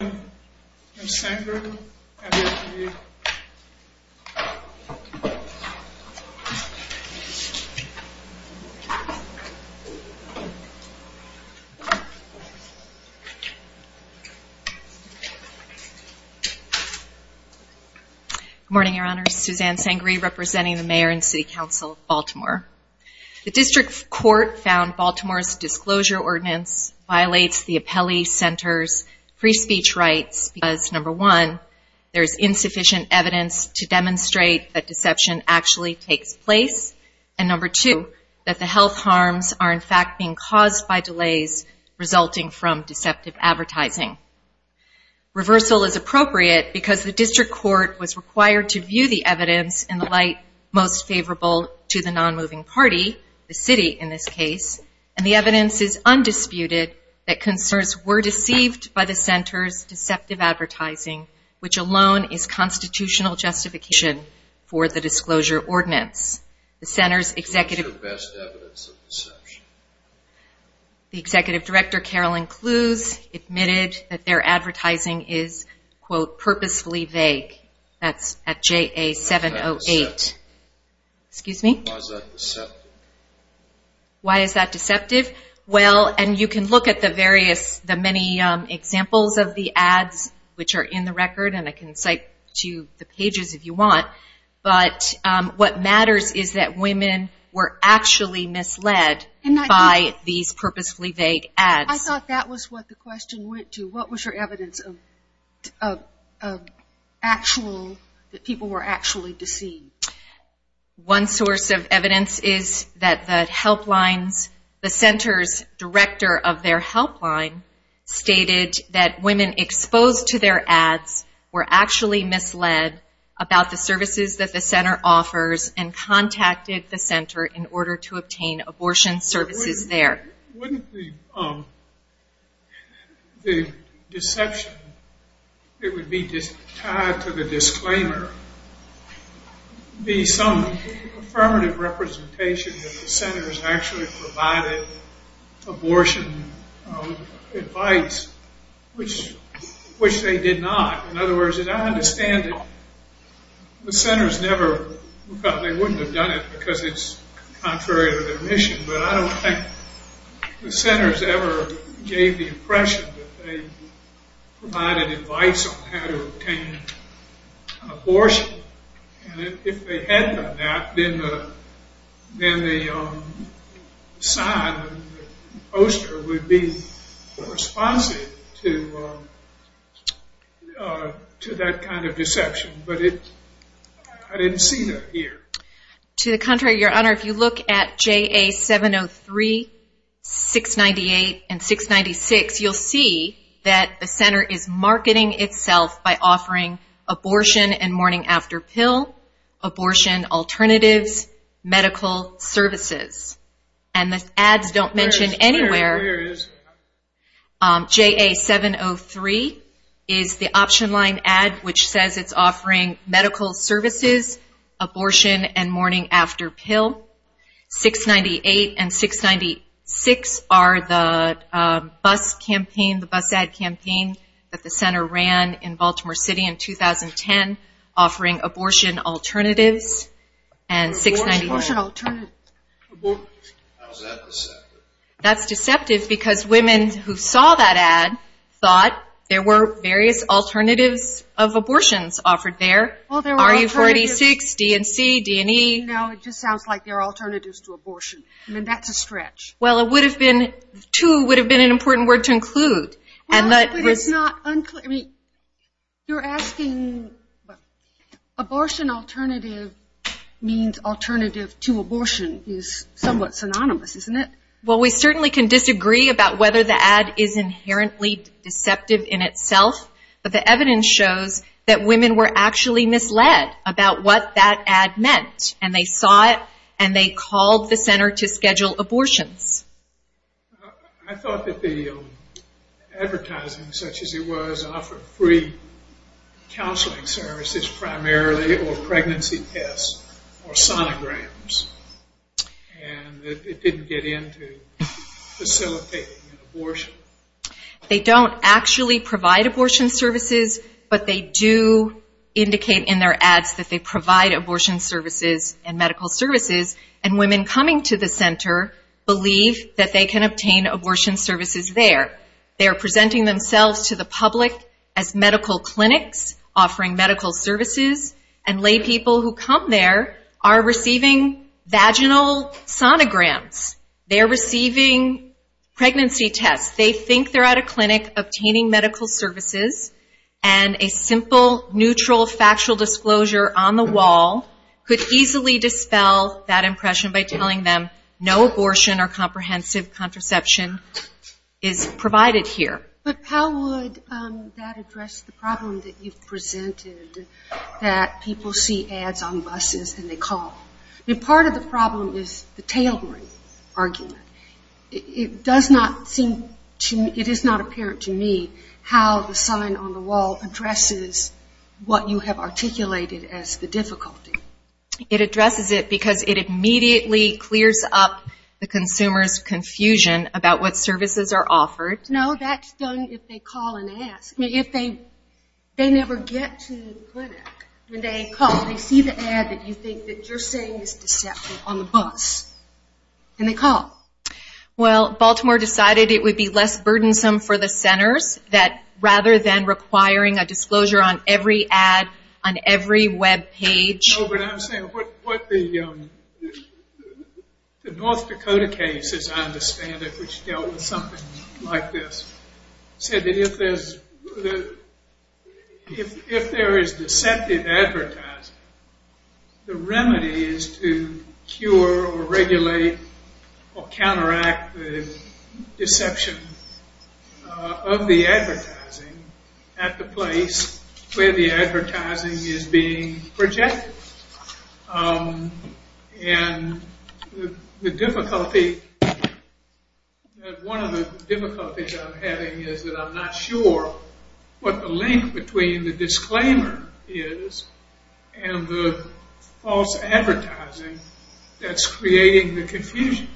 Good morning Your Honors, Suzanne Sangree representing the Mayor and City Council of Baltimore. The District Court found Baltimore's disclosure ordinance violates the Appellee Center's free speech rights because, number one, there is insufficient evidence to demonstrate that deception actually takes place, and number two, that the health harms are in fact being caused by delays resulting from deceptive advertising. Reversal is appropriate because the District Court was required to view the evidence in the light most favorable to the non-moving party, the city in this case, and the evidence is undisputed that consumers were deceived by the Center's deceptive advertising, which alone is constitutional justification for the disclosure ordinance. The Center's executive director, Carolyn Clues, admitted that their advertising is, quote, purposefully vague. That's at JA 708. Excuse me? Why is that deceptive? Well, and you can look at the various, the many examples of the ads which are in the record, and I can cite to the pages if you want, but what matters is that women were actually misled by these purposefully vague ads. I thought that was what the question went to. What was your evidence of actual, that people were actually deceived? One source of evidence is that the helplines, the Center's director of their helpline stated that women exposed to their ads were actually misled about the services that the Center offers and contacted the Center in order to obtain abortion services there. Wouldn't the deception it would be tied to the disclaimer be some affirmative representation that the Center's actually provided abortion advice, which they did not. In other words, I understand that the Center's never, they wouldn't have done it because it's contrary to their mission, but I don't think the Center's ever gave the impression that they provided advice on how to obtain abortion, and if they had done that, then the sign, the poster would be responsive to that kind of deception, but it, I didn't see that here. To the contrary, Your Honor, if you look at JA 703, 698, and 696, you'll see that the Center is marketing itself by offering abortion and morning after pill, abortion alternatives, medical services, and the ads don't mention anywhere, JA 703 is the option line ad which says it's offering medical services, abortion, and morning after pill. 698 and 696 are the bus campaign, the bus ad campaign that the Center ran in Baltimore City in 2010 offering abortion alternatives, and 698, that's deceptive because women who saw that ad thought there were various alternatives of abortions offered there, RU 46, D&C, D&E. No, it just sounds like there are alternatives to abortion. I mean, that's a stretch. Well, it would have been, too, would have been an important word to include. Well, but it's not unclear, I mean, you're asking, abortion alternative means alternative to abortion is somewhat synonymous, isn't it? Well, we certainly can disagree about whether the ad is inherently deceptive in itself, but the ad shows that women were actually misled about what that ad meant, and they saw it, and they called the Center to schedule abortions. I thought that the advertising, such as it was, offered free counseling services primarily or pregnancy tests or sonograms, and it didn't get into facilitating an abortion. They don't actually provide abortion services, but they do indicate in their ads that they provide abortion services and medical services, and women coming to the Center believe that they can obtain abortion services there. They are presenting themselves to the public as medical clinics offering medical services, and lay people who come there are receiving vaginal sonograms. They are receiving pregnancy tests. They think they're at a clinic obtaining medical services, and a simple, neutral, factual disclosure on the wall could easily dispel that impression by telling them no abortion or comprehensive contraception is provided here. But how would that address the problem that you've presented, that people see ads on buses and they call? I mean, part of the problem is the tailwind argument. It does not seem to me, it is not apparent to me how the sign on the wall addresses what you have articulated as the difficulty. It addresses it because it immediately clears up the consumer's confusion about what services are offered. No, that's done if they call and ask. I mean, if they never get to the clinic, when they call, they see the ad that you think that you're saying is deceptive on the bus, and they call. Well, Baltimore decided it would be less burdensome for the Centers that rather than requiring a disclosure on every ad on every web page. No, but I'm saying what the North Dakota case, as I understand it, which dealt with something like this, said that if there is deceptive advertising, the remedy is to cure or regulate or counteract the deception of the advertising at the place where the advertising is being projected. And the difficulty, one of the difficulties I'm having is that I'm not sure what the link between the disclaimer is and the false advertising that's creating the confusion.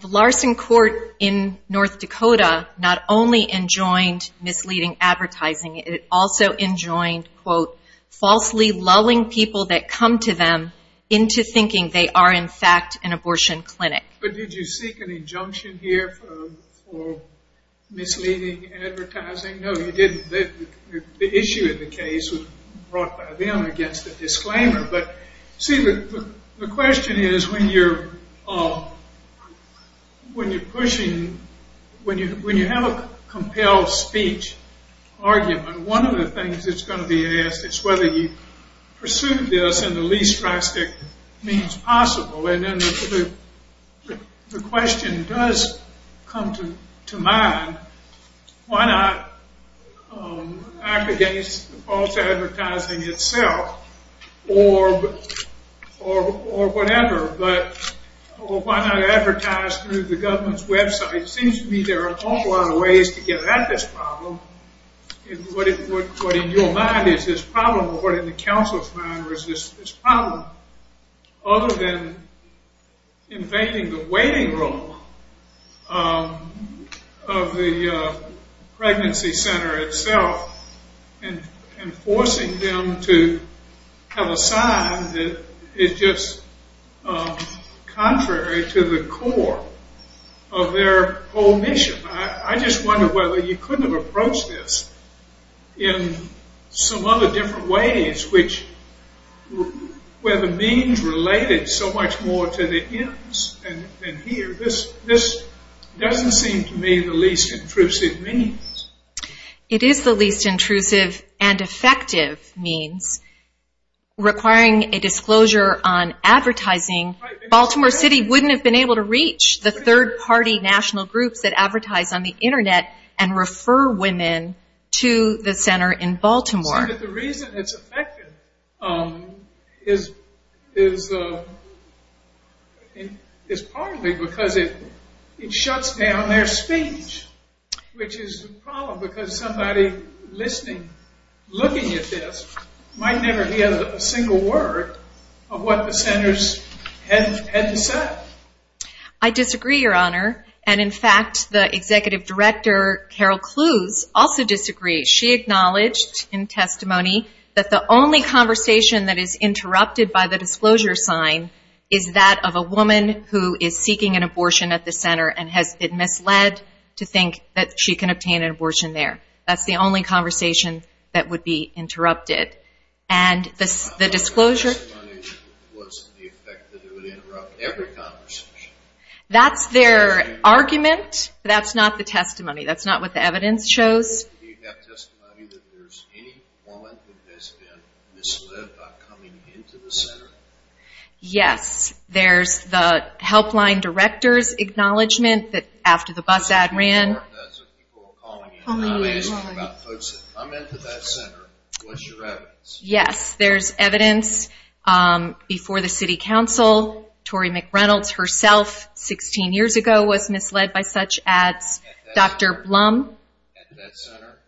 The Larson Court in North Dakota not only enjoined misleading advertising, it also enjoined, quote, falsely lulling people that come to them into thinking they are in fact an abortion clinic. But did you seek an injunction here for misleading advertising? No, you didn't. The issue in the case was brought by them against the disclaimer. But see, the question is when you're pushing, when you have a compelled speech argument, one of the things that's going to be asked is whether you pursued this in the least drastic means possible. And then the question does come to mind, why not advocate false advertising itself or whatever, but why not advertise through the government's website? It seems to me there are an awful lot of ways to get at this problem. What in your mind is this problem or what in the council's mind is this problem, other than invading the waiting room of the pregnancy center itself and forcing them to have a sign that is just contrary to the core of their whole mission. I just wonder whether you couldn't have approached this in some other different ways, where the means related so much more to the ends than here. This doesn't seem to me the least intrusive means. It is the least intrusive and effective means. Requiring a disclosure on advertising, Baltimore City wouldn't have been able to reach the third party national groups that advertise on the internet and refer women to the center in Baltimore. The reason it's effective is partly because it shuts down their speech, which is a problem because somebody listening, looking at this, might never hear a single word of what the centers had to say. I disagree, Your Honor. In fact, the executive director, Carol Cluse, also disagrees. She acknowledged in testimony that the only conversation that is interrupted by the disclosure sign is that of a woman who is seeking an abortion at the center and has been misled to think that she can obtain an abortion there. That's the only conversation that would be interrupted. And the disclosure... The testimony was the effect that it would interrupt every conversation. That's their argument. That's not the testimony. That's not what the evidence shows. Do you have testimony that there's any woman who has been misled by coming into the center? Yes. There's the helpline director's acknowledgment that after the bus ad ran... I'm asking about folks that come into that center. What's your evidence? Yes, there's evidence before the city council. Tori McReynolds herself, 16 years ago, was misled by such ads. Dr. Blum? At that center?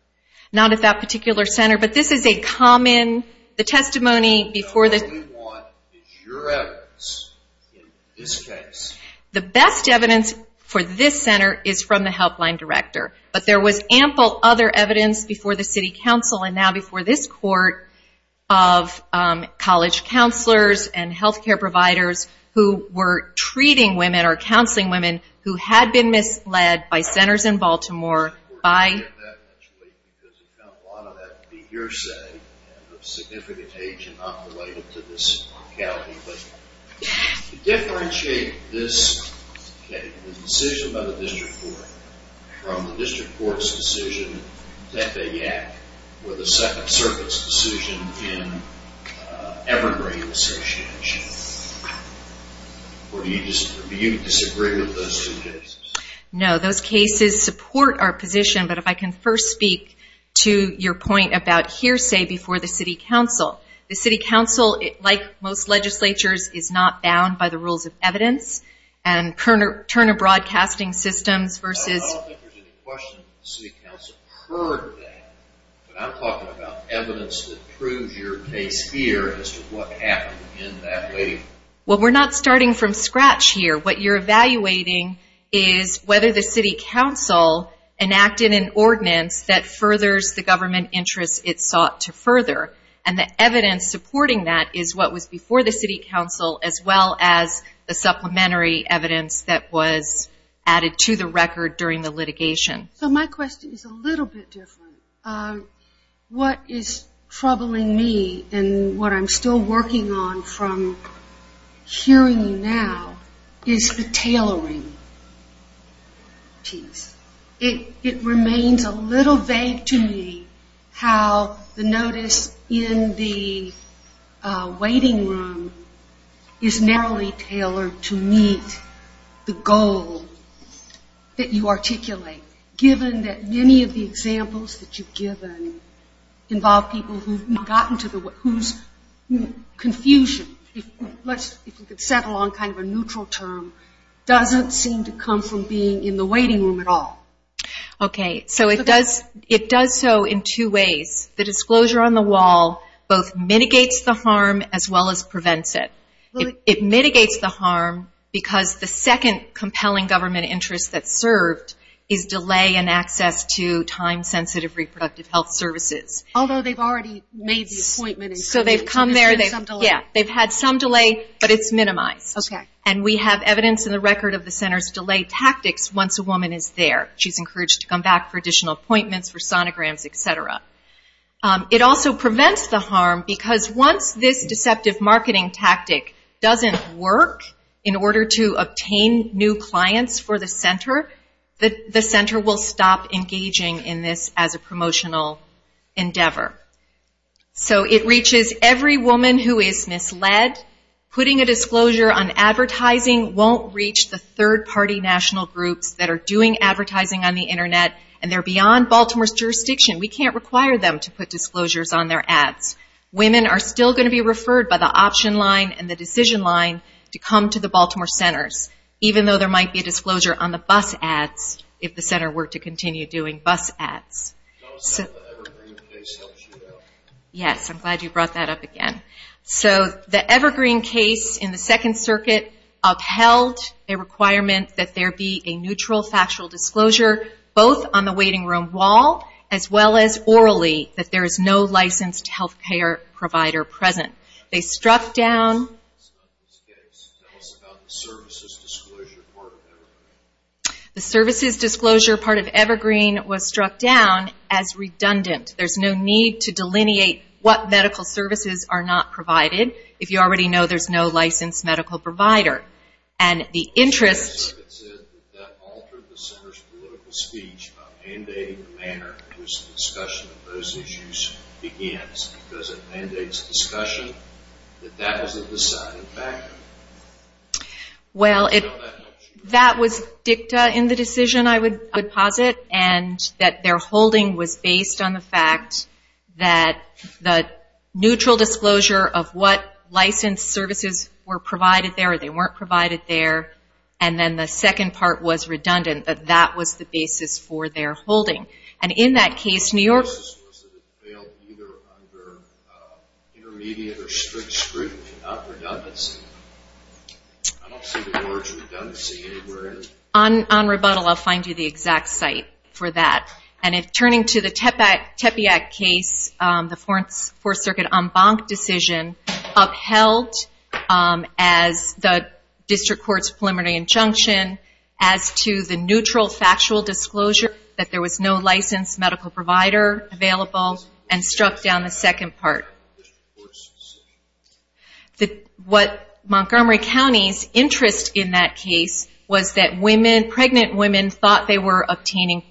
Not at that particular center, but this is a common... The testimony before the... What we want is your evidence in this case. The best evidence for this center is from the helpline director. But there was ample other evidence before the city council and now before this court of college counselors and health care providers who were treating women or counseling women who had been misled by centers in Baltimore by... significant age and not related to this locality. To differentiate this case, the decision by the district court, from the district court's decision in Tepeyac or the Second Circuit's decision in Evergreen Association? Or do you disagree with those two cases? No, those cases support our position, but if I can first speak to your point about hearsay before the city council. The city council, like most legislatures, is not bound by the rules of evidence and Turner Broadcasting Systems versus... I don't think there's any question the city council heard that, but I'm talking about evidence that proves your case here as to what happened in that way. Well, we're not starting from scratch here. What you're evaluating is whether the city council enacted an ordinance that furthers the government interests it sought to further. And the evidence supporting that is what was before the city council as well as the supplementary evidence that was added to the record during the litigation. So my question is a little bit different. What is troubling me and what I'm still working on from hearing you now is the tailoring piece. It remains a little vague to me how the notice in the waiting room is narrowly tailored to meet the goal that you articulate, given that many of the examples that you've given involve people whose confusion, if we could settle on kind of a neutral term, doesn't seem to come from being in the waiting room at all. Okay. So it does so in two ways. The disclosure on the wall both mitigates the harm as well as prevents it. It mitigates the harm because the second compelling government interest that's served is delay in access to time-sensitive reproductive health services. Although they've already made the appointment. So they've come there. They've had some delay, but it's minimized. And we have evidence in the record of the center's delay tactics once a woman is there. She's encouraged to come back for additional appointments, for sonograms, et cetera. It also prevents the harm because once this deceptive marketing tactic doesn't work in order to obtain new clients for the center, the center will stop engaging in this as a promotional endeavor. So it reaches every woman who is misled. Putting a disclosure on advertising won't reach the third-party national groups that are doing advertising on the Internet. And they're beyond Baltimore's jurisdiction. We can't require them to put disclosures on their ads. Women are still going to be referred by the option line and the decision line to come to the Baltimore centers, even though there might be a disclosure on the bus ads if the center were to continue doing bus ads. Yes, I'm glad you brought that up again. So the Evergreen case in the Second Circuit upheld a requirement that there be a neutral factual disclosure both on the waiting room wall as well as orally that there is no licensed health care provider present. They struck down... The services disclosure part of Evergreen was struck down as redundant. There's no need to delineate what medical services are not provided if you already know there's no licensed medical provider. And the interest... discussion of those issues begins because it mandates discussion that that is a decided fact. Well, that was dicta in the decision, I would posit, and that their holding was based on the fact that the neutral disclosure of what licensed services were provided there or they weren't provided there, and then the second part was redundant, that that was the basis for their holding. And in that case, New York... On rebuttal, I'll find you the exact site for that. And turning to the Tepeyac case, the Fourth Circuit en banc decision, upheld as the district court's preliminary injunction as to the neutral factual disclosure that there was no licensed medical provider available and struck down the second part. What Montgomery County's interest in that case was that women, pregnant women, thought they were obtaining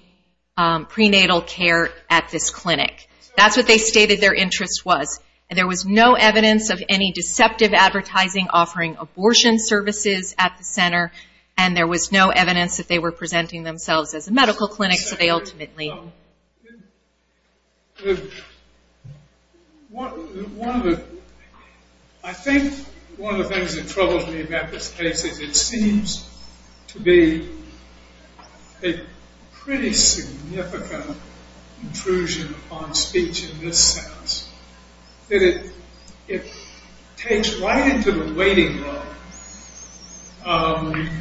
prenatal care at this clinic. That's what they stated their interest was. There was no evidence of any deceptive advertising offering abortion services at the center, and there was no evidence that they were presenting themselves as a medical clinic, so they ultimately... I think one of the things that troubles me about this case is it seems to be a pretty significant intrusion upon speech in this sense. It takes right into the waiting room of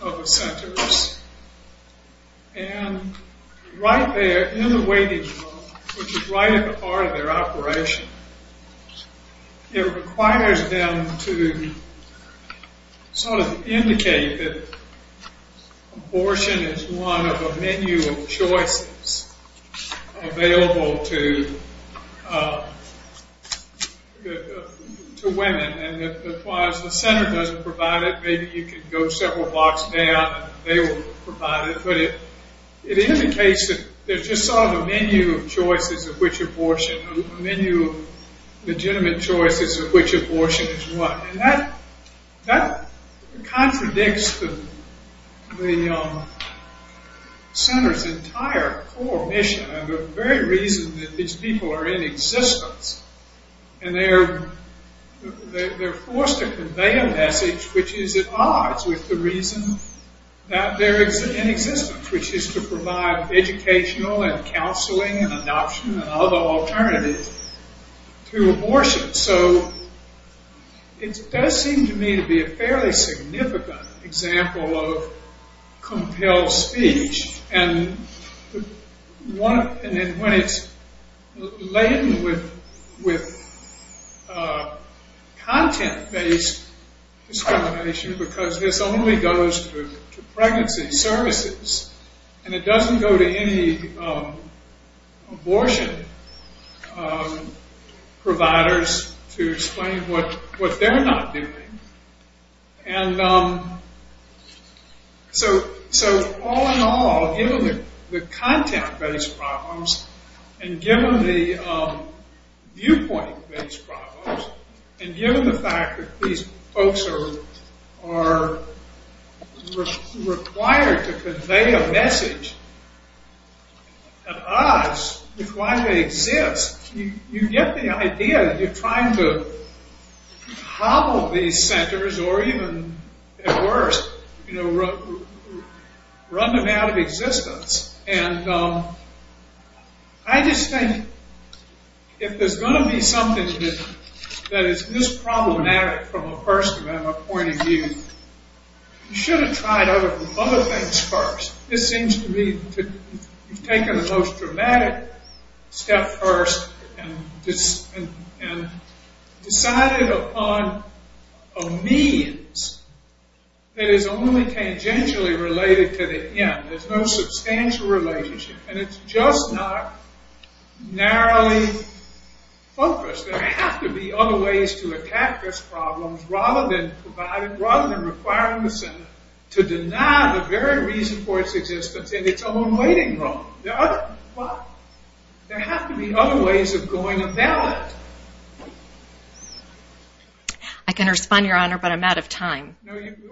the centers, and right there in the waiting room, which is right at the heart of their operation, it requires them to sort of indicate that abortion is one of a menu of choices, available to women. And if the center doesn't provide it, maybe you can go several blocks down and they will provide it. But it indicates that there's just sort of a menu of choices of which abortion, a menu of legitimate choices of which abortion is what. And that contradicts the center's entire core mission and the very reason that these people are in existence. And they're forced to convey a message which is at odds with the reason that they're in existence, which is to provide educational and counseling and adoption and other alternatives to abortion. So it does seem to me to be a fairly significant example of compelled speech. And when it's laden with content-based discrimination, because this only goes to pregnancy services, and it doesn't go to any abortion providers to explain what they're not doing. And so all in all, given the content-based problems and given the viewpoint-based problems, and given the fact that these folks are required to convey a message at odds with why they exist, you get the idea that you're trying to hobble these centers or even at worst, run them out of existence. And I just think if there's going to be something that is this problematic from a first-amendment point of view, you should have tried other things first. This seems to me to have taken the most dramatic step first and decided upon a means that is only tangentially related to the end. There's no substantial relationship. And it's just not narrowly focused. There have to be other ways to attack this problem rather than requiring the center to deny the very reason for its existence in its own waiting room. There have to be other ways of going about it. I can respond, Your Honor, but I'm out of time.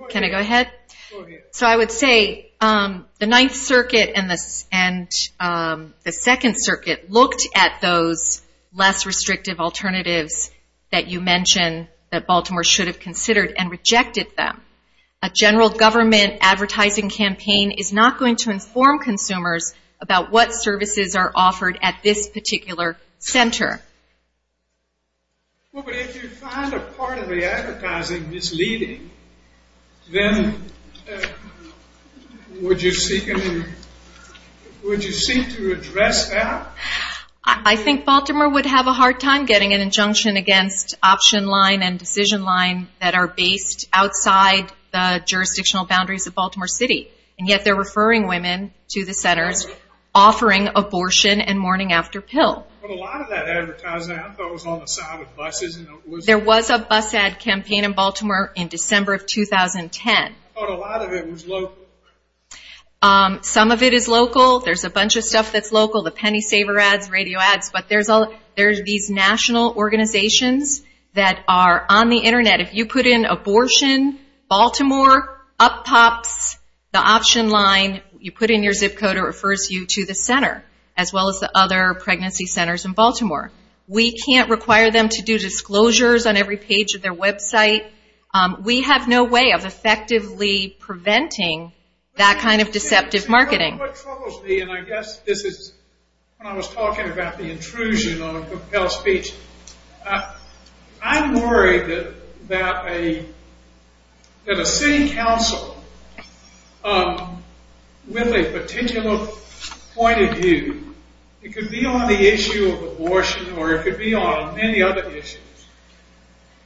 Can I go ahead? Go ahead. So I would say the Ninth Circuit and the Second Circuit looked at those less restrictive alternatives that you mentioned that Baltimore should have considered and rejected them. A general government advertising campaign is not going to inform consumers about what services are offered at this particular center. Well, but if you find a part of the advertising misleading, then would you seek to address that? I think Baltimore would have a hard time getting an injunction against option line and decision line that are based outside the jurisdictional boundaries of Baltimore City. And yet they're referring women to the centers offering abortion and morning after pill. But a lot of that advertising I thought was on the side of buses. There was a bus ad campaign in Baltimore in December of 2010. I thought a lot of it was local. Some of it is local. There's a bunch of stuff that's local, the penny saver ads, radio ads. But there's these national organizations that are on the Internet. If you put in abortion, Baltimore, Up Pops, the option line, you put in your zip code, it refers you to the center, as well as the other pregnancy centers in Baltimore. We can't require them to do disclosures on every page of their website. We have no way of effectively preventing that kind of deceptive marketing. What troubles me, and I guess this is when I was talking about the intrusion of compelled speech, I'm worried that a city council with a particular point of view, it could be on the issue of abortion or it could be on many other issues,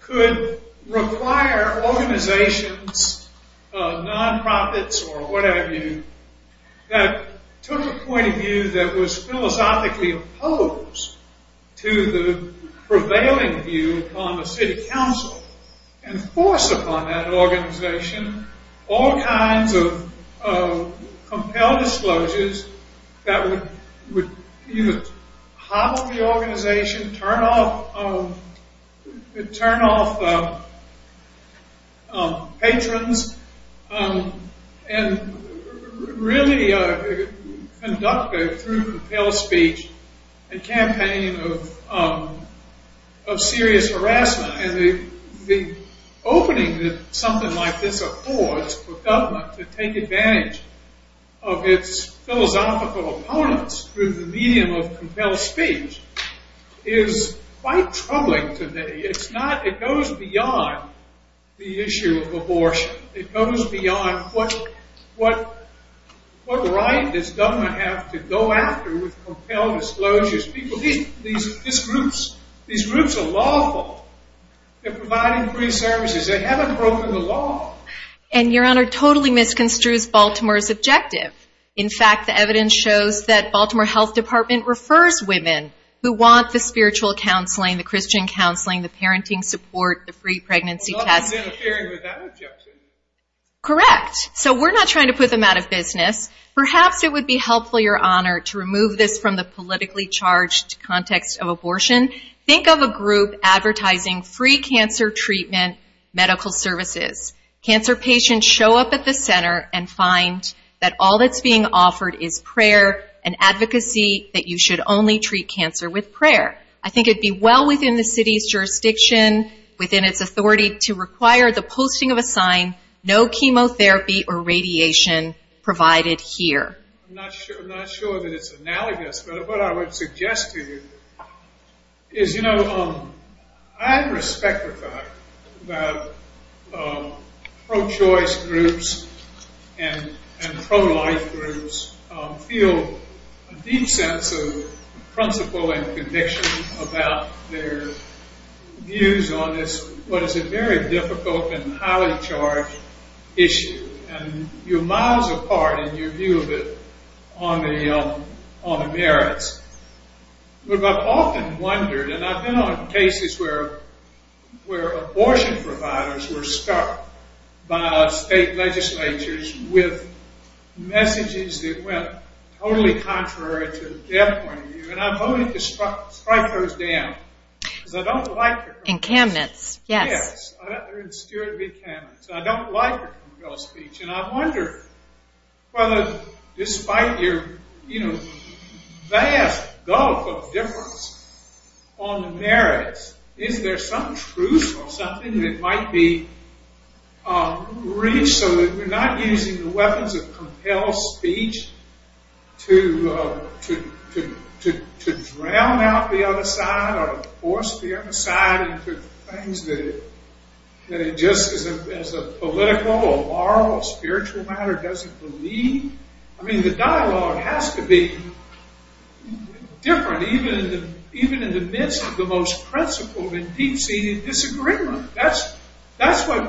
could require organizations, nonprofits or what have you, that took a point of view that was philosophically opposed to the prevailing view upon the city council and forced upon that organization all kinds of compelled disclosures that would either hobble the organization, turn off patrons, and really conduct through compelled speech a campaign of serious harassment. And the opening that something like this affords for government to take advantage of its philosophical opponents through the medium of compelled speech is quite troubling to me. It goes beyond the issue of abortion. It goes beyond what right does government have to go after with compelled disclosures. These groups are lawful. They're providing free services. They haven't broken the law. And, Your Honor, totally misconstrues Baltimore's objective. In fact, the evidence shows that Baltimore Health Department refers women who want the spiritual counseling, the Christian counseling, the parenting support, the free pregnancy test. Correct. So we're not trying to put them out of business. Perhaps it would be helpful, Your Honor, to remove this from the politically charged context of abortion. Think of a group advertising free cancer treatment medical services. Cancer patients show up at the center and find that all that's being offered is prayer and advocacy that you should only treat cancer with prayer. I think it would be well within the city's jurisdiction, within its authority, to require the posting of a sign, no chemotherapy or radiation provided here. I'm not sure that it's analogous, but what I would suggest to you is, you know, I respect the fact that pro-choice groups and pro-life groups feel a deep sense of principle and conviction about their views on this, what is a very difficult and highly charged issue. And you're miles apart in your view of it on the merits. But I've often wondered, and I've been on cases where abortion providers were stuck by state legislatures with messages that went totally contrary to their point of view. And I'm hoping to strike those down, because I don't like it. Encampments, yes. Yes, they're insecure encampments. I don't like compelled speech. And I wonder whether, despite your, you know, vast gulf of difference on the merits, is there some truth or something that might be reached so that we're not using the weapons of compelled speech to drown out the other side or force the other side into things that it just, as a political or moral or spiritual matter, doesn't believe? I mean, the dialogue has to be different, even in the midst of the most principled and deep-seated disagreement. That's what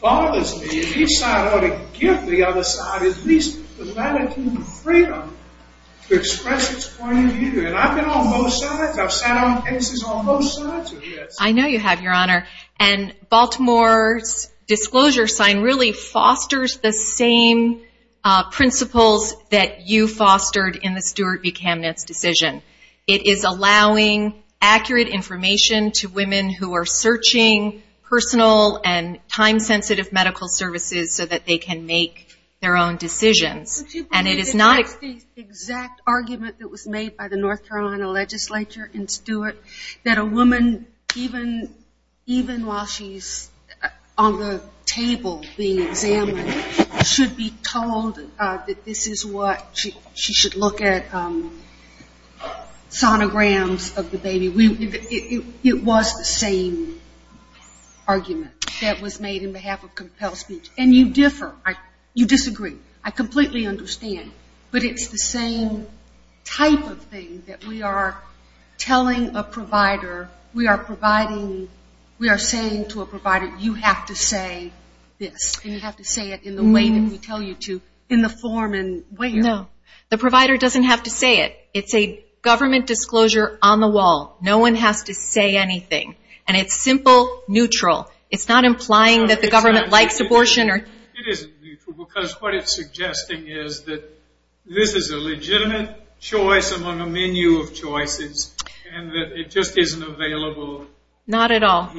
bothers me. Each side ought to give the other side at least the latitude and freedom to express its point of view. And I've been on both sides. I've sat on cases on both sides of this. I know you have, Your Honor. And Baltimore's disclosure sign really fosters the same principles that you fostered in the Stewart v. Kamenetz decision. It is allowing accurate information to women who are searching personal and time-sensitive medical services so that they can make their own decisions. And it is not the exact argument that was made by the North Carolina legislature in Stewart that a woman, even while she's on the table being examined, should be told that this is what she should look at sonograms of the baby. It was the same argument that was made in behalf of compelled speech. And you differ. You disagree. I completely understand. But it's the same type of thing that we are telling a provider, we are providing, we are saying to a provider, you have to say this, and you have to say it in the way that we tell you to, in the form and way. No. The provider doesn't have to say it. It's a government disclosure on the wall. No one has to say anything. And it's simple, neutral. It's not implying that the government likes abortion. It isn't neutral because what it's suggesting is that this is a legitimate choice among a menu of choices and that it just isn't available here. Not at all.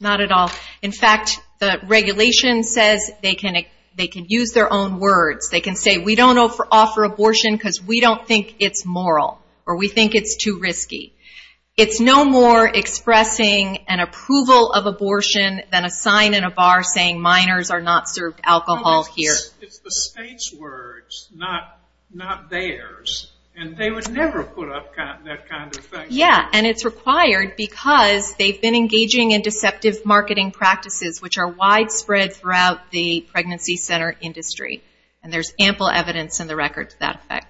Not at all. In fact, the regulation says they can use their own words. They can say we don't offer abortion because we don't think it's moral or we think it's too risky. It's no more expressing an approval of abortion than a sign in a bar saying minors are not served alcohol here. It's the state's words, not theirs. And they would never put up that kind of thing. Yeah, and it's required because they've been engaging in deceptive marketing practices which are widespread throughout the pregnancy center industry, and there's ample evidence in the record to that effect.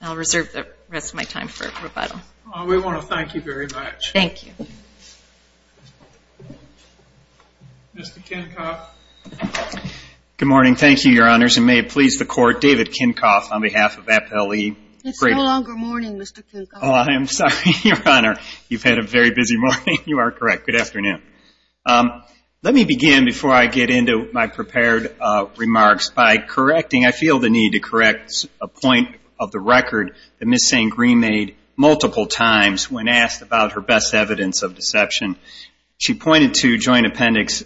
I'll reserve the rest of my time for rebuttal. We want to thank you very much. Thank you. Mr. Kinkoff. Good morning. Thank you, Your Honors. And may it please the Court, David Kinkoff on behalf of FLE. It's no longer morning, Mr. Kinkoff. Oh, I am sorry, Your Honor. You've had a very busy morning. You are correct. Good afternoon. Let me begin before I get into my prepared remarks by correcting, I feel the need to correct a point of the record that Ms. St. Green made multiple times when asked about her best evidence of deception. She pointed to Joint Appendix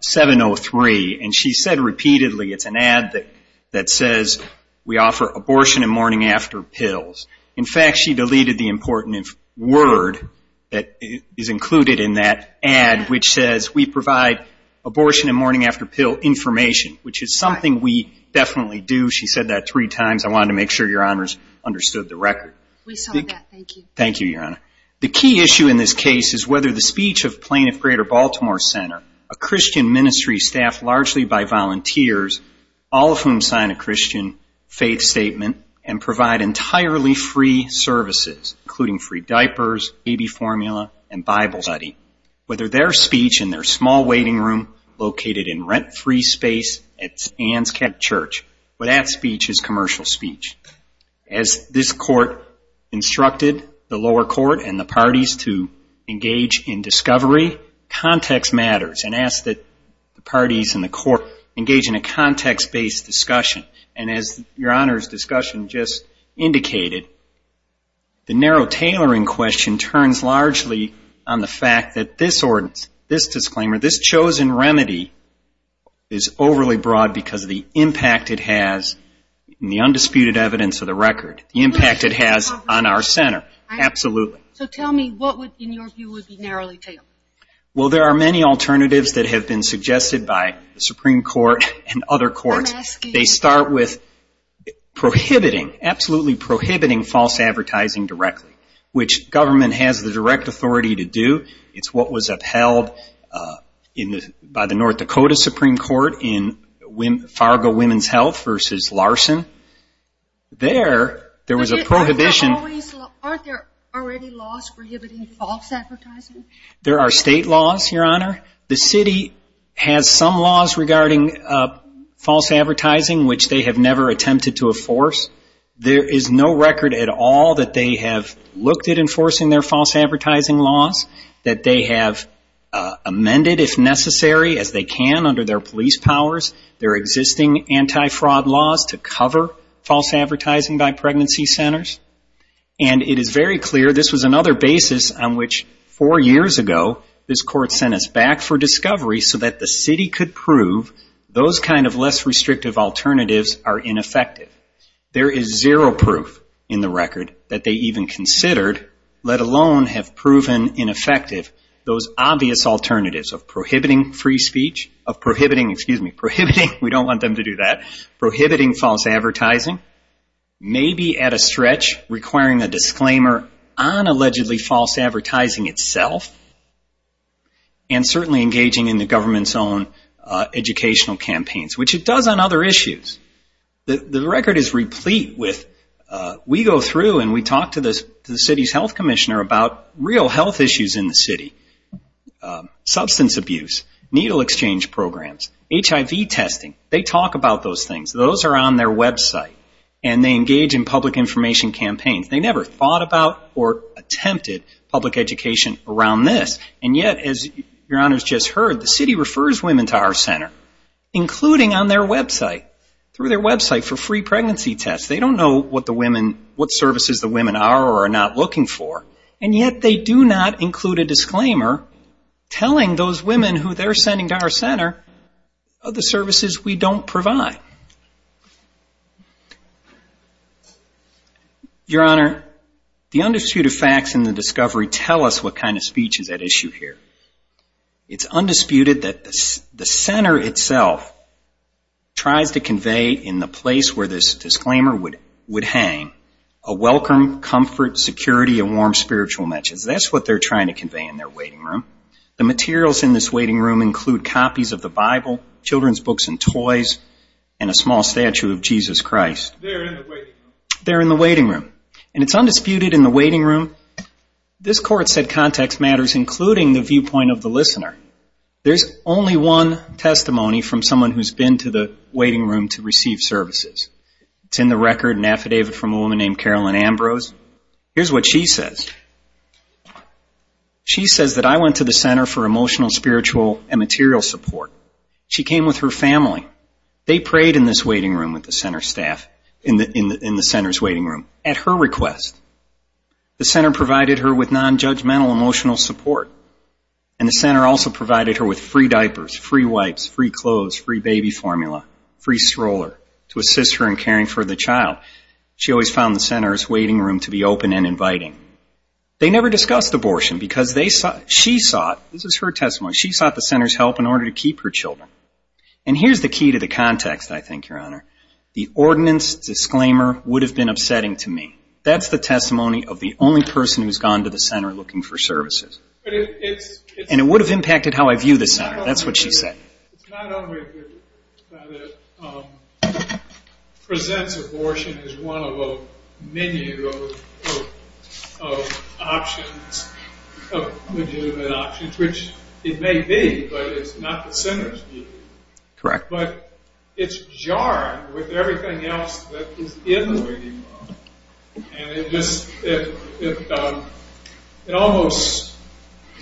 703, and she said repeatedly, it's an ad that says we offer abortion and morning-after pills. In fact, she deleted the important word that is included in that ad, which says we provide abortion and morning-after pill information, which is something we definitely do. She said that three times. I wanted to make sure Your Honors understood the record. We saw that. Thank you. Thank you, Your Honor. The key issue in this case is whether the speech of Plaintiff Greater Baltimore Center, a Christian ministry staffed largely by volunteers, all of whom sign a Christian faith statement and provide entirely free services, including free diapers, baby formula, and Bible study, whether their speech in their small waiting room located in rent-free space at Ann's Catholic Church, whether that speech is commercial speech. As this Court instructed the lower court and the parties to engage in discovery, context matters, and asked that the parties and the court engage in a context-based discussion. And as Your Honor's discussion just indicated, the narrow tailoring question turns largely on the fact that this ordinance, this disclaimer, this chosen remedy is overly broad because of the impact it has in the undisputed evidence of the record, the impact it has on our center. Absolutely. So tell me what would, in your view, would be narrowly tailored? Well, there are many alternatives that have been suggested by the Supreme Court and other courts. They start with prohibiting, absolutely prohibiting false advertising directly, which government has the direct authority to do. It's what was upheld by the North Dakota Supreme Court in Fargo Women's Health versus Larson. There, there was a prohibition. Aren't there already laws prohibiting false advertising? There are state laws, Your Honor. The city has some laws regarding false advertising, which they have never attempted to enforce. There is no record at all that they have looked at enforcing their false advertising laws, that they have amended, if necessary, as they can under their police powers, their existing anti-fraud laws to cover false advertising by pregnancy centers. And it is very clear this was another basis on which four years ago this court sent us back for discovery so that the city could prove those kind of less restrictive alternatives are ineffective. There is zero proof in the record that they even considered, let alone have proven ineffective, those obvious alternatives of prohibiting free speech, of prohibiting, excuse me, prohibiting, we don't want them to do that, prohibiting false advertising, maybe at a stretch requiring a disclaimer on allegedly false advertising itself, and certainly engaging in the government's own educational campaigns, which it does on other issues. The record is replete with, we go through and we talk to the city's health commissioner about real health issues in the city, substance abuse, needle exchange programs, HIV testing. They talk about those things. Those are on their website. And they engage in public information campaigns. They never thought about or attempted public education around this. And yet, as Your Honor has just heard, the city refers women to our center, including on their website, through their website for free pregnancy tests. They don't know what the women, what services the women are or are not looking for. And yet they do not include a disclaimer telling those women who they're sending to our center of the services we don't provide. Your Honor, the undisputed facts in the discovery tell us what kind of speech is at issue here. It's undisputed that the center itself tries to convey in the place where this disclaimer would hang a welcome, comfort, security, and warm spiritual message. That's what they're trying to convey in their waiting room. The materials in this waiting room include copies of the Bible, children's books and toys, and a small statue of Jesus Christ. They're in the waiting room. And it's undisputed in the waiting room. This court said context matters, including the viewpoint of the listener. There's only one testimony from someone who's been to the waiting room to receive services. It's in the record, an affidavit from a woman named Carolyn Ambrose. Here's what she says. She says that I went to the center for emotional, spiritual, and material support. She came with her family. They prayed in this waiting room with the center staff, in the center's waiting room, at her request. The center provided her with nonjudgmental emotional support. And the center also provided her with free diapers, free wipes, free clothes, free baby formula, free stroller to assist her in caring for the child. She always found the center's waiting room to be open and inviting. They never discussed abortion because she sought, this is her testimony, she sought the center's help in order to keep her children. And here's the key to the context, I think, Your Honor. The ordinance disclaimer would have been upsetting to me. That's the testimony of the only person who's gone to the center looking for services. And it would have impacted how I view the center. That's what she said. It's not only that it presents abortion as one of a menu of options, of legitimate options, which it may be, but it's not the center's view. Correct. But it's jarred with everything else that is in the waiting room. And it just, it almost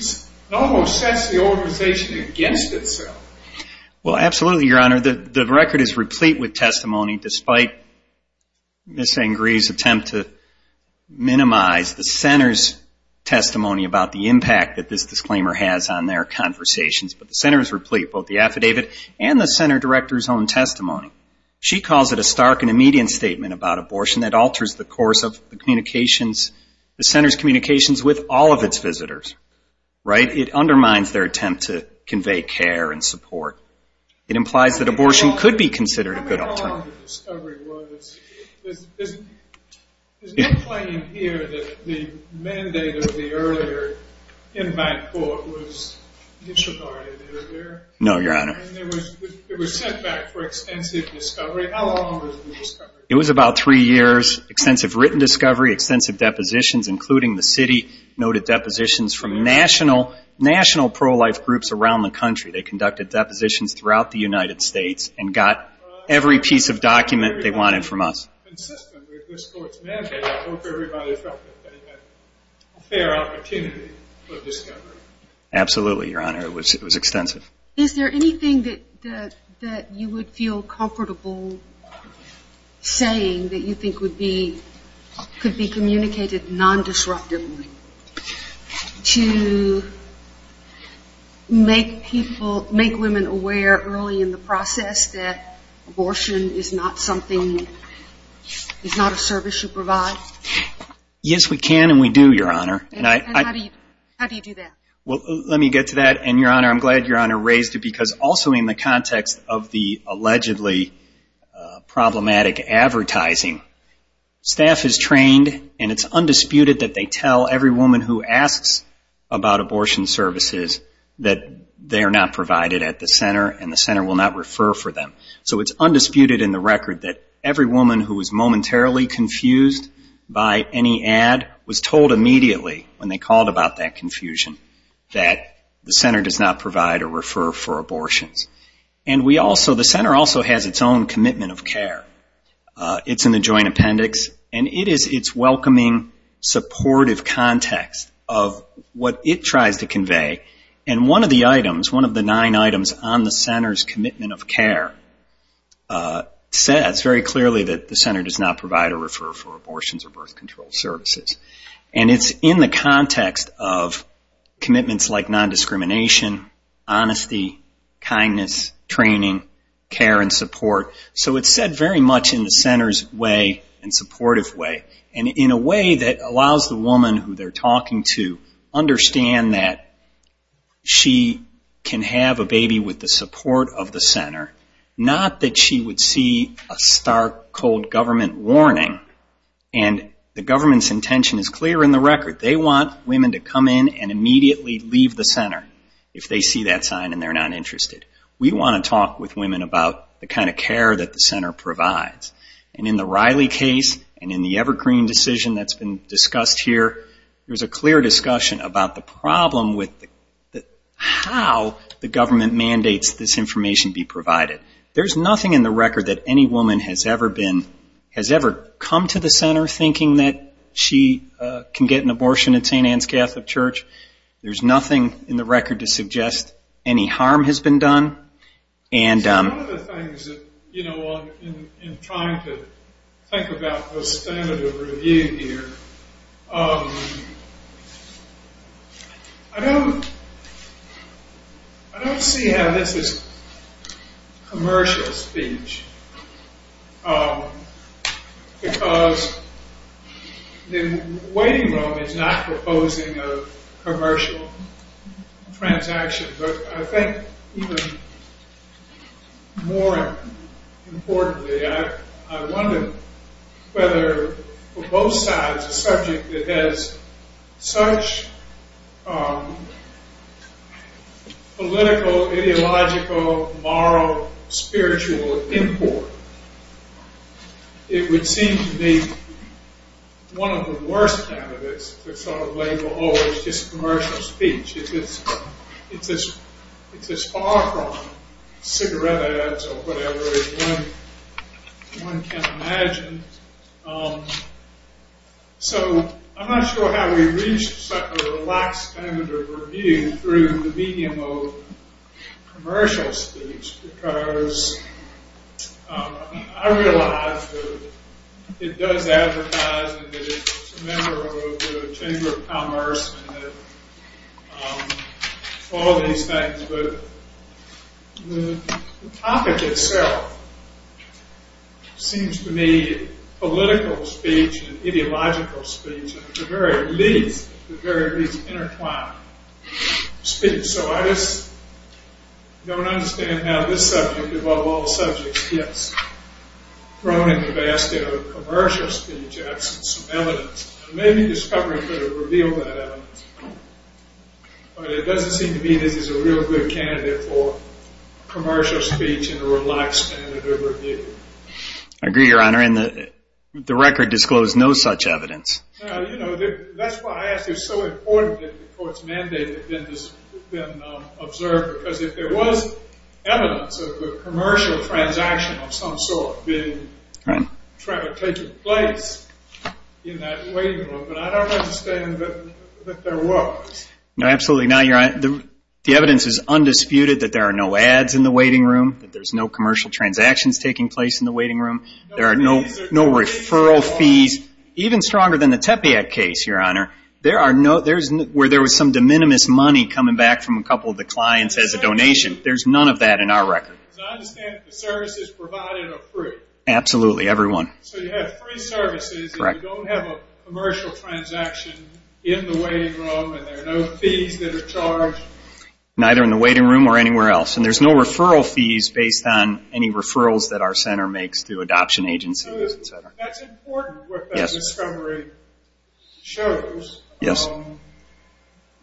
sets the organization against itself. Well, absolutely, Your Honor. The record is replete with testimony despite Ms. Sangree's attempt to minimize the center's testimony about the impact that this disclaimer has on their conversations. But the center is replete with both the affidavit and the center director's own testimony. She calls it a stark and immediate statement about abortion that alters the course of the communications, the center's communications with all of its visitors, right? It undermines their attempt to convey care and support. It implies that abortion could be considered a good alternative. How long the discovery was. Is it plain here that the mandate of the earlier invite court was disregarded earlier? No, Your Honor. It was set back for extensive discovery. How long was the discovery? It was about three years, extensive written discovery, extensive depositions, including the city noted depositions from national pro-life groups around the country. They conducted depositions throughout the United States and got every piece of document they wanted from us. Absolutely, Your Honor. It was extensive. Is there anything that you would feel comfortable saying that you think could be communicated non-disruptively to make people, make women aware early in the process that abortion is not something, is not a service you provide? Yes, we can and we do, Your Honor. And how do you do that? Well, let me get to that, and Your Honor, I'm glad Your Honor raised it because also in the context of the allegedly problematic advertising, staff is trained and it's undisputed that they tell every woman who asks about abortion services that they are not provided at the center and the center will not refer for them. So it's undisputed in the record that every woman who was momentarily confused by any ad was told immediately when they called about that confusion that the center does not provide or refer for abortions. And the center also has its own commitment of care. It's in the joint appendix. And it is its welcoming, supportive context of what it tries to convey. And one of the items, one of the nine items on the center's commitment of care says very clearly that the center does not provide or refer for abortions or birth control services. And it's in the context of commitments like non-discrimination, honesty, kindness, training, care and support. So it's said very much in the center's way and supportive way and in a way that allows the woman who they're talking to understand that she can have a baby with the support of the center, not that she would see a stark, cold government warning. And the government's intention is clear in the record. They want women to come in and immediately leave the center if they see that sign and they're not interested. We want to talk with women about the kind of care that the center provides. And in the Riley case and in the Evergreen decision that's been discussed here, there's a clear discussion about the problem with how the government mandates this information be provided. There's nothing in the record that any woman has ever been, has ever come to the center thinking that she can get an abortion at St. Ann's Catholic Church. There's nothing in the record to suggest any harm has been done. One of the things in trying to think about the standard of review here, I don't see how this is commercial speech, because the waiting room is not proposing a commercial transaction. But I think even more importantly, I wonder whether for both sides, a subject that has such political, ideological, moral, spiritual import, it would seem to be one of the worst candidates to sort of label, oh, it's just commercial speech. It's as far from cigarette ads or whatever as one can imagine. So I'm not sure how we've reached such a relaxed standard of review through the medium of commercial speech, because I realize that it does advertise and that it's a member of the Chamber of Commerce and all these things. But the topic itself seems to me political speech and ideological speech are at the very least intertwined speech. So I just don't understand how this subject, of all subjects, gets thrown in the basket of commercial speech as some evidence. Maybe discovery could have revealed that evidence. But it doesn't seem to me this is a real good candidate for commercial speech in a relaxed standard of review. I agree, Your Honor. And the record disclosed no such evidence. That's why I ask you. It's so important that the court's mandate had been observed, because if there was evidence of a commercial transaction of some sort being taken place in that waiting room, but I don't understand that there was. No, absolutely not, Your Honor. The evidence is undisputed that there are no ads in the waiting room, that there's no commercial transactions taking place in the waiting room. There are no referral fees. Even stronger than the Tepeyac case, Your Honor, where there was some de minimis money coming back from a couple of the clients as a donation. There's none of that in our record. Because I understand that the services provided are free. Absolutely, every one. So you have free services and you don't have a commercial transaction in the waiting room and there are no fees that are charged? Neither in the waiting room or anywhere else. And there's no referral fees based on any referrals that our center makes through adoption agencies, et cetera. So that's important, what that discovery shows. Yes.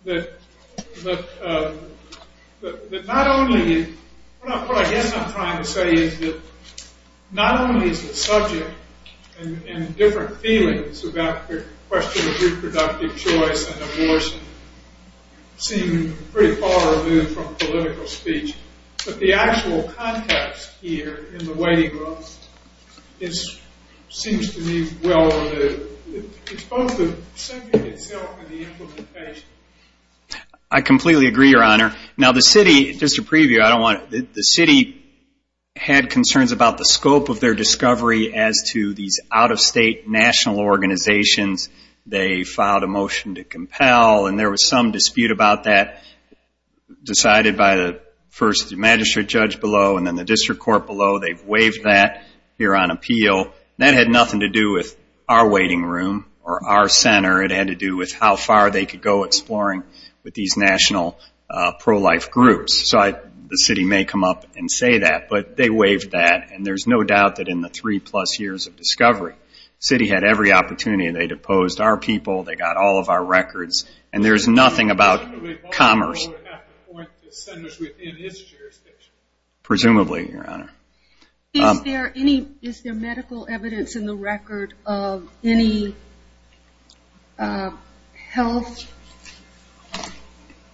That not only, what I guess I'm trying to say is that not only is the subject and different feelings about the question of reproductive choice and abortion seem pretty far removed from political speech, but the actual context here in the waiting room seems to me well removed. It's both the subject itself and the implementation. I completely agree, Your Honor. Now the city, just a preview, the city had concerns about the scope of their discovery as to these out-of-state national organizations. They filed a motion to compel, and there was some dispute about that, decided by the first magistrate judge below and then the district court below. They've waived that here on appeal. That had nothing to do with our waiting room or our center. It had to do with how far they could go exploring with these national pro-life groups. So the city may come up and say that, but they waived that, and there's no doubt that in the three-plus years of discovery, the city had every opportunity, and they deposed our people, they got all of our records, and there's nothing about commerce. Presumably, Baltimore would have to appoint the centers within its jurisdiction. Presumably, Your Honor. Is there medical evidence in the record of any health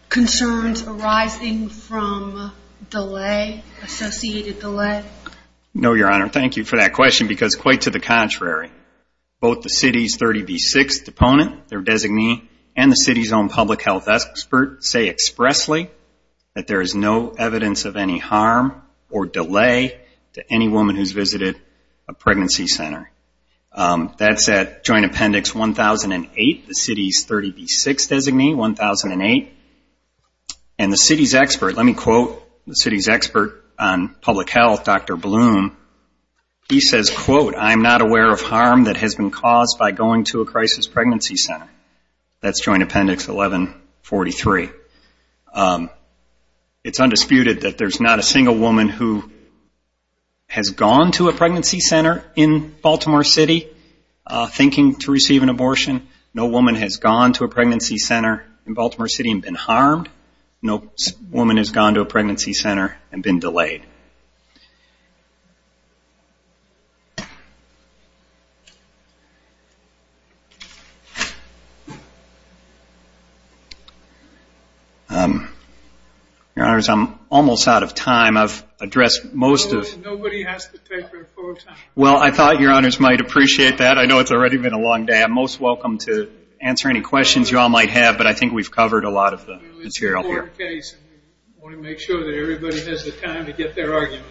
concerns arising from delay, associated delay? No, Your Honor. Thank you for that question because quite to the contrary. Both the city's 30B6th opponent, their designee, and the city's own public health expert say expressly that there is no evidence of any harm or delay to any woman who's visited a pregnancy center. That's at Joint Appendix 1008, the city's 30B6th designee, 1008. And the city's expert, let me quote the city's expert on public health, Dr. Bloom. He says, quote, I'm not aware of harm that has been caused by going to a crisis pregnancy center. That's Joint Appendix 1143. It's undisputed that there's not a single woman who has gone to a pregnancy center in Baltimore City thinking to receive an abortion. No woman has gone to a pregnancy center in Baltimore City and been harmed. No woman has gone to a pregnancy center and been delayed. Your Honors, I'm almost out of time. I've addressed most of it. Nobody has to take their full time. Well, I thought Your Honors might appreciate that. I know it's already been a long day. I'm most welcome to answer any questions you all might have, but I think we've covered a lot of the material here. It's an important case, and we want to make sure that everybody has the time to get that information.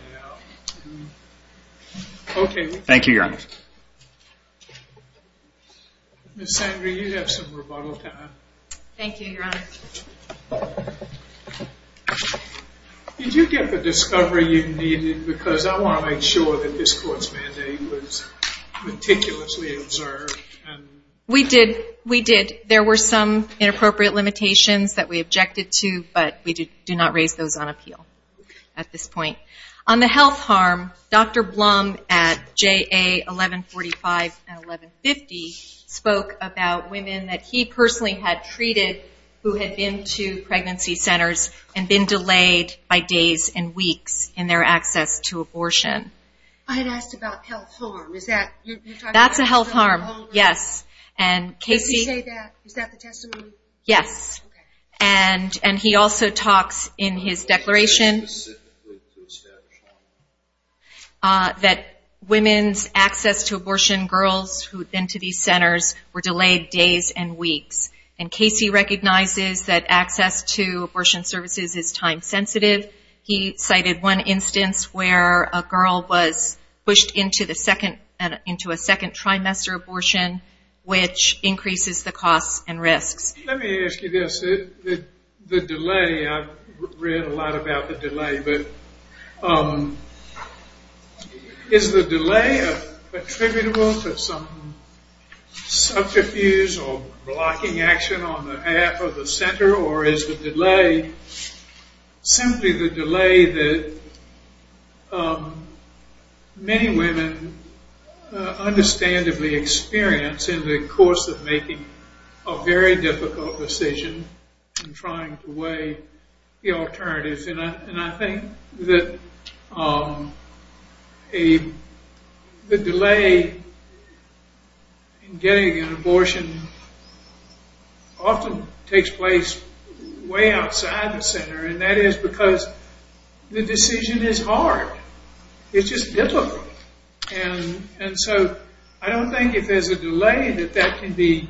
Okay. Thank you, Your Honors. Ms. Sandra, you have some rebuttal time. Thank you, Your Honors. Did you get the discovery you needed? Because I want to make sure that this court's mandate was meticulously observed. We did. We did. There were some inappropriate limitations that we objected to, but we do not raise those on appeal at this point. On the health harm, Dr. Blum at JA 1145 and 1150 spoke about women that he personally had treated who had been to pregnancy centers and been delayed by days and weeks in their access to abortion. I had asked about health harm. That's a health harm, yes. Did you say that? Is that the testimony? Yes. Okay. Casey also talks in his declaration that women's access to abortion, girls who had been to these centers, were delayed days and weeks. And Casey recognizes that access to abortion services is time sensitive. He cited one instance where a girl was pushed into a second trimester abortion, which increases the costs and risks. Let me ask you this. The delay, I've read a lot about the delay, but is the delay attributable to some subterfuge or blocking action on the half of the center, or is the delay simply the delay that many women understandably experience in the course of making a very difficult decision in trying to weigh the alternatives? And I think that the delay in getting an abortion often takes place way outside the center, and that is because the decision is hard. It's just difficult. And so I don't think if there's a delay that that can be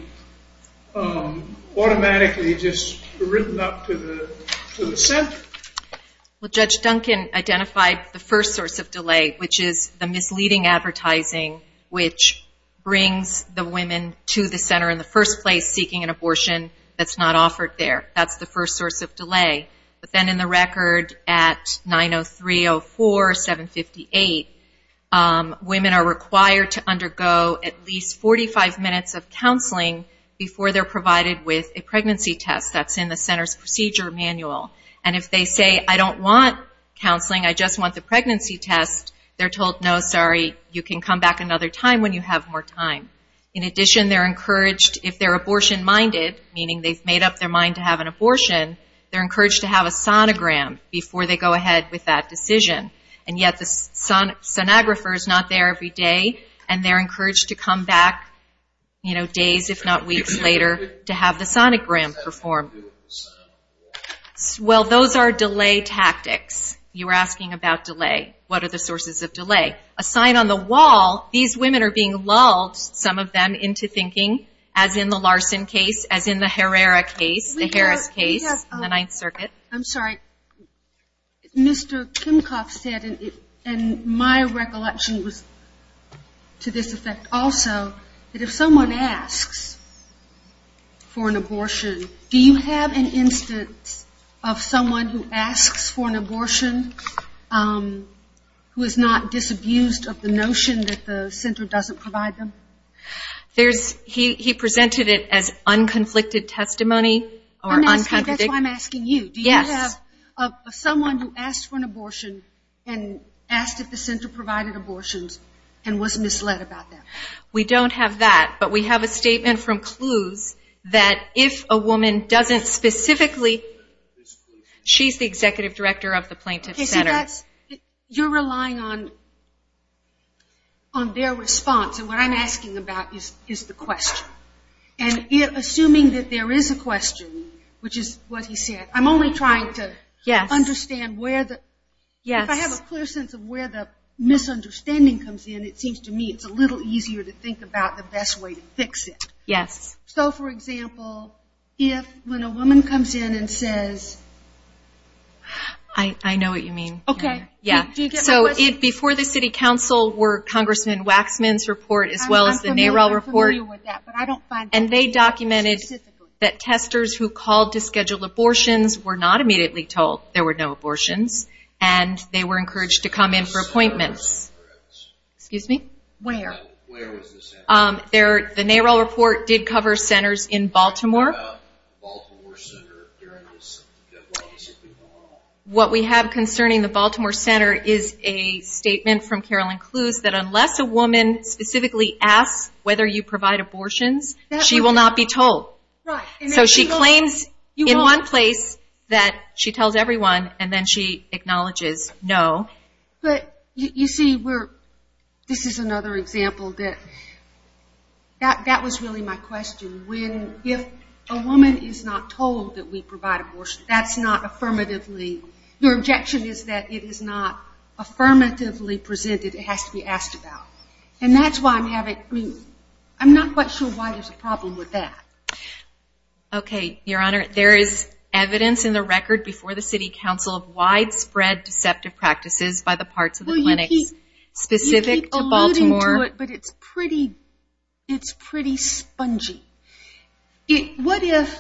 automatically just written up to the center. Well, Judge Duncan identified the first source of delay, which is the misleading advertising, which brings the women to the center in the first place seeking an abortion that's not offered there. But then in the record at 903.04.758, women are required to undergo at least 45 minutes of counseling before they're provided with a pregnancy test. That's in the center's procedure manual. And if they say, I don't want counseling, I just want the pregnancy test, they're told, no, sorry, you can come back another time when you have more time. In addition, they're encouraged, if they're abortion-minded, meaning they've made up their mind to have an abortion, they're encouraged to have a sonogram before they go ahead with that decision. And yet the sonographer is not there every day, and they're encouraged to come back days if not weeks later to have the sonogram performed. Well, those are delay tactics. You were asking about delay. What are the sources of delay? A sign on the wall, these women are being lulled, some of them, into thinking, as in the Larson case, as in the Herrera case, the Harris case, the Ninth Circuit. I'm sorry. Mr. Kimcoff said, and my recollection was to this effect also, that if someone asks for an abortion, do you have an instance of someone who asks for an abortion who is not disabused of the notion that the center doesn't provide them? He presented it as unconflicted testimony. That's why I'm asking you. Do you have someone who asked for an abortion and asked if the center provided abortions and was misled about them? We don't have that, but we have a statement from CLUES that if a woman doesn't specifically, she's the executive director of the plaintiff's center. You're relying on their response. What I'm asking about is the question. Assuming that there is a question, which is what he said, I'm only trying to understand where the— If I have a clear sense of where the misunderstanding comes in, it seems to me it's a little easier to think about the best way to fix it. For example, if when a woman comes in and says— I know what you mean. Before the city council were Congressman Waxman's report, as well as the NARAL report. They documented that testers who called to schedule abortions were not immediately told there were no abortions, and they were encouraged to come in for appointments. Excuse me? Where? The NARAL report did cover centers in Baltimore. What we have concerning the Baltimore center is a statement from Carolyn CLUES that unless a woman specifically asks whether you provide abortions, she will not be told. She claims in one place that she tells everyone, and then she acknowledges no. You see, this is another example. That was really my question. If a woman is not told that we provide abortions, that's not affirmatively— Your objection is that it is not affirmatively presented. It has to be asked about. And that's why I'm having— I'm not quite sure why there's a problem with that. Okay, Your Honor. There is evidence in the record before the city council of widespread deceptive practices by the parts of the clinics specific to Baltimore. But it's pretty spongy. What if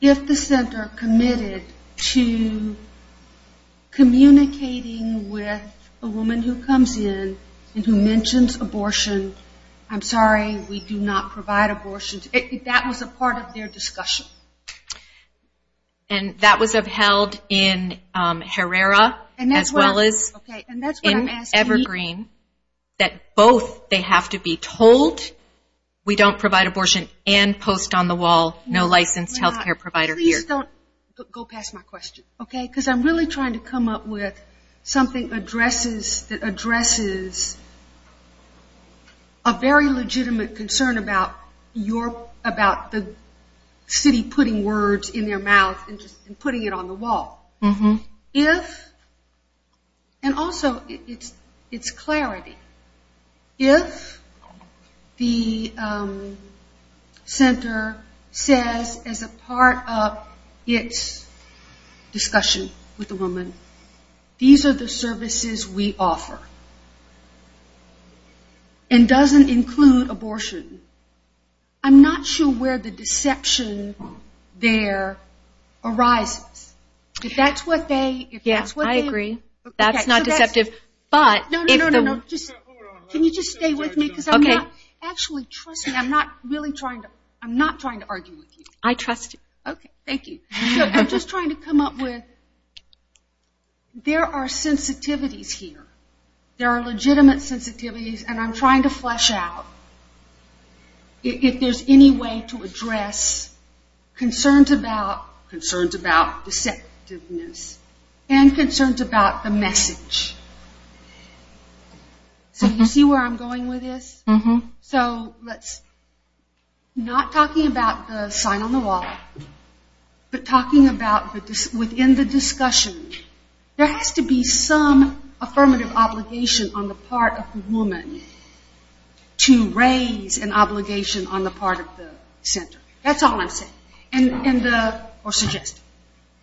the center committed to communicating with a woman who comes in and who mentions abortion, I'm sorry, we do not provide abortions. That was a part of their discussion. And that was upheld in Herrera as well as in Evergreen, that both they have to be told we don't provide abortion and post on the wall no licensed health care provider here. Please don't go past my question, okay? Because I'm really trying to come up with something that addresses a very legitimate concern about the city putting words in their mouth and putting it on the wall. If, and also it's clarity, if the center says as a part of its discussion with the woman, these are the services we offer and doesn't include abortion, I'm not sure where the deception there arises. If that's what they... Yes, I agree. That's not deceptive, but... No, no, no, no. Can you just stay with me because I'm not... Okay. Actually, trust me, I'm not really trying to argue with you. I trust you. Okay, thank you. I'm just trying to come up with... There are sensitivities here. There are legitimate sensitivities and I'm trying to flesh out if there's any way to address concerns about deceptiveness and concerns about the message. So you see where I'm going with this? Not talking about the sign on the wall, but talking about within the discussion, there has to be some affirmative obligation on the part of the woman to raise an obligation on the part of the center. That's all I'm saying or suggesting.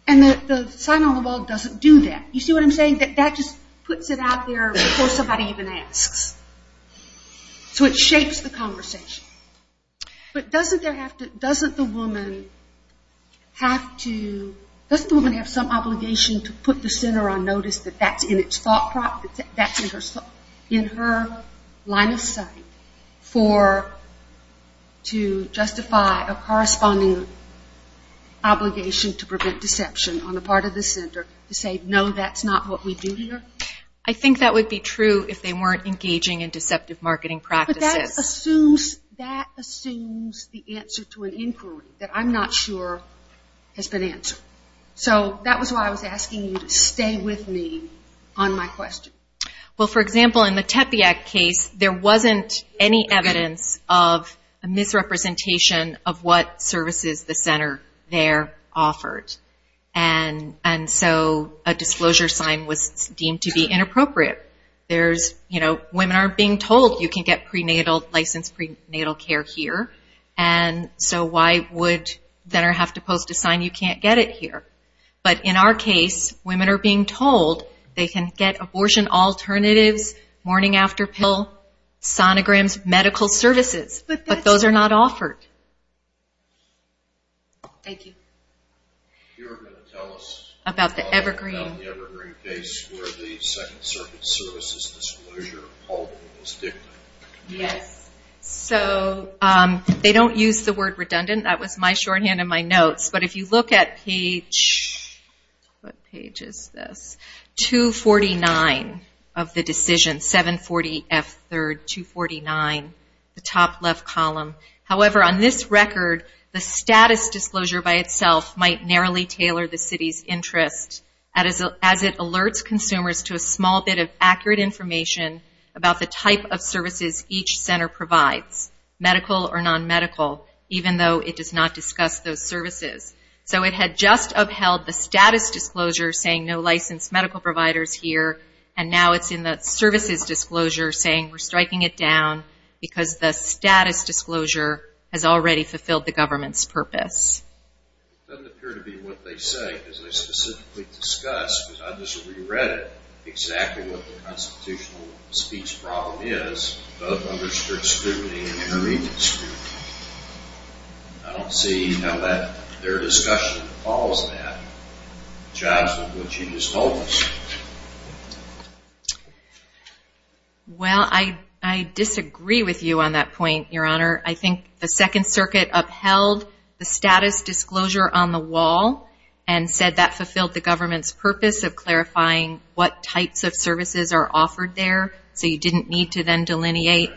And the sign on the wall doesn't do that. You see what I'm saying? That just puts it out there before somebody even asks. So it shapes the conversation. But doesn't the woman have some obligation to put the center on notice that that's in her line of sight to justify a corresponding obligation to prevent deception on the part of the center to say, no, that's not what we do here? I think that would be true if they weren't engaging in deceptive marketing practices. But that assumes the answer to an inquiry that I'm not sure has been answered. So that was why I was asking you to stay with me on my question. Well, for example, in the Tepiak case, there wasn't any evidence of a misrepresentation of what services the center there offered. And so a disclosure sign was deemed to be inappropriate. Women aren't being told you can get licensed prenatal care here, and so why would the center have to post a sign you can't get it here? But in our case, women are being told they can get abortion alternatives, morning after pill, sonograms, medical services. But those are not offered. Thank you. You were going to tell us about the Evergreen case where the Second Circuit Service's disclosure of paulking was dictated. Yes. So they don't use the word redundant. That was my shorthand in my notes. But if you look at page 249 of the decision, 740F3rd, 249, the top left column, however, on this record, the status disclosure by itself might narrowly tailor the city's interest as it alerts consumers to a small bit of accurate information about the type of services each center provides, medical or nonmedical, even though it does not discuss those services. So it had just upheld the status disclosure saying no licensed medical providers here, and now it's in the services disclosure saying we're striking it down because the status disclosure has already fulfilled the government's purpose. It doesn't appear to be what they say, because they specifically discuss, because I just reread it, exactly what the constitutional speech problem is of underserved student and intermediate student. I don't see how their discussion follows that. It jibes with what you just told us. Well, I disagree with you on that point, Your Honor. I think the Second Circuit upheld the status disclosure on the wall and said that fulfilled the government's purpose of clarifying what types of services are offered there, so you didn't need to then delineate.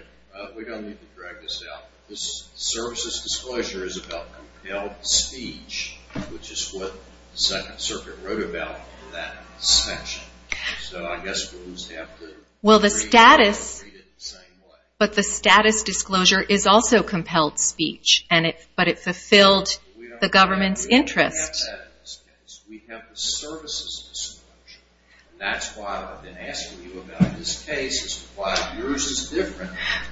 We don't need to drag this out. The services disclosure is about compelled speech, which is what the Second Circuit wrote about in that section. So I guess we'll just have to read it the same way. But the status disclosure is also compelled speech, but it fulfilled the government's interest. We don't have that in this case. We have the services disclosure. That's why I've been asking you about this case, is why yours is different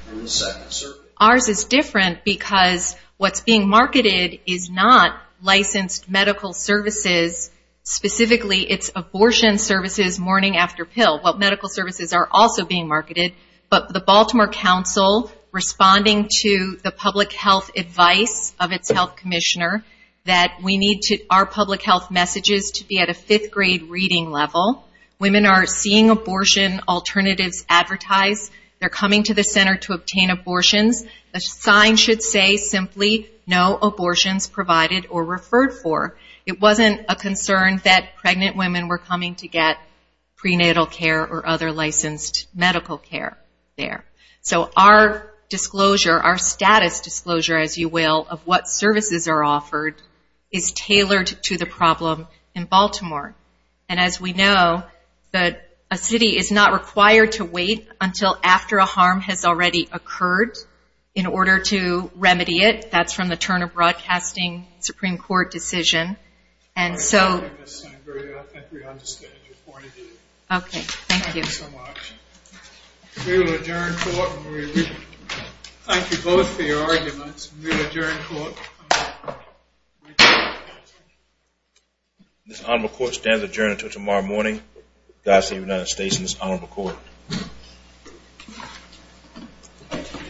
from the Second Circuit. Ours is different because what's being marketed is not licensed medical services. Specifically, it's abortion services morning after pill. What medical services are also being marketed, but the Baltimore Council responding to the public health advice of its health commissioner that we need our public health messages to be at a fifth-grade reading level. Women are seeing abortion alternatives advertised. They're coming to the center to obtain abortions. The sign should say simply, no abortions provided or referred for. It wasn't a concern that pregnant women were coming to get prenatal care or other licensed medical care there. So our status disclosure, as you will, of what services are offered, is tailored to the problem in Baltimore. And as we know, a city is not required to wait until after a harm has already occurred in order to remedy it. That's from the turn of broadcasting Supreme Court decision. And so... I think we understand your point of view. Okay, thank you. Thank you so much. We will adjourn court. Thank you both for your arguments. We will adjourn court. This honorable court stands adjourned until tomorrow morning. God save the United States and this honorable court.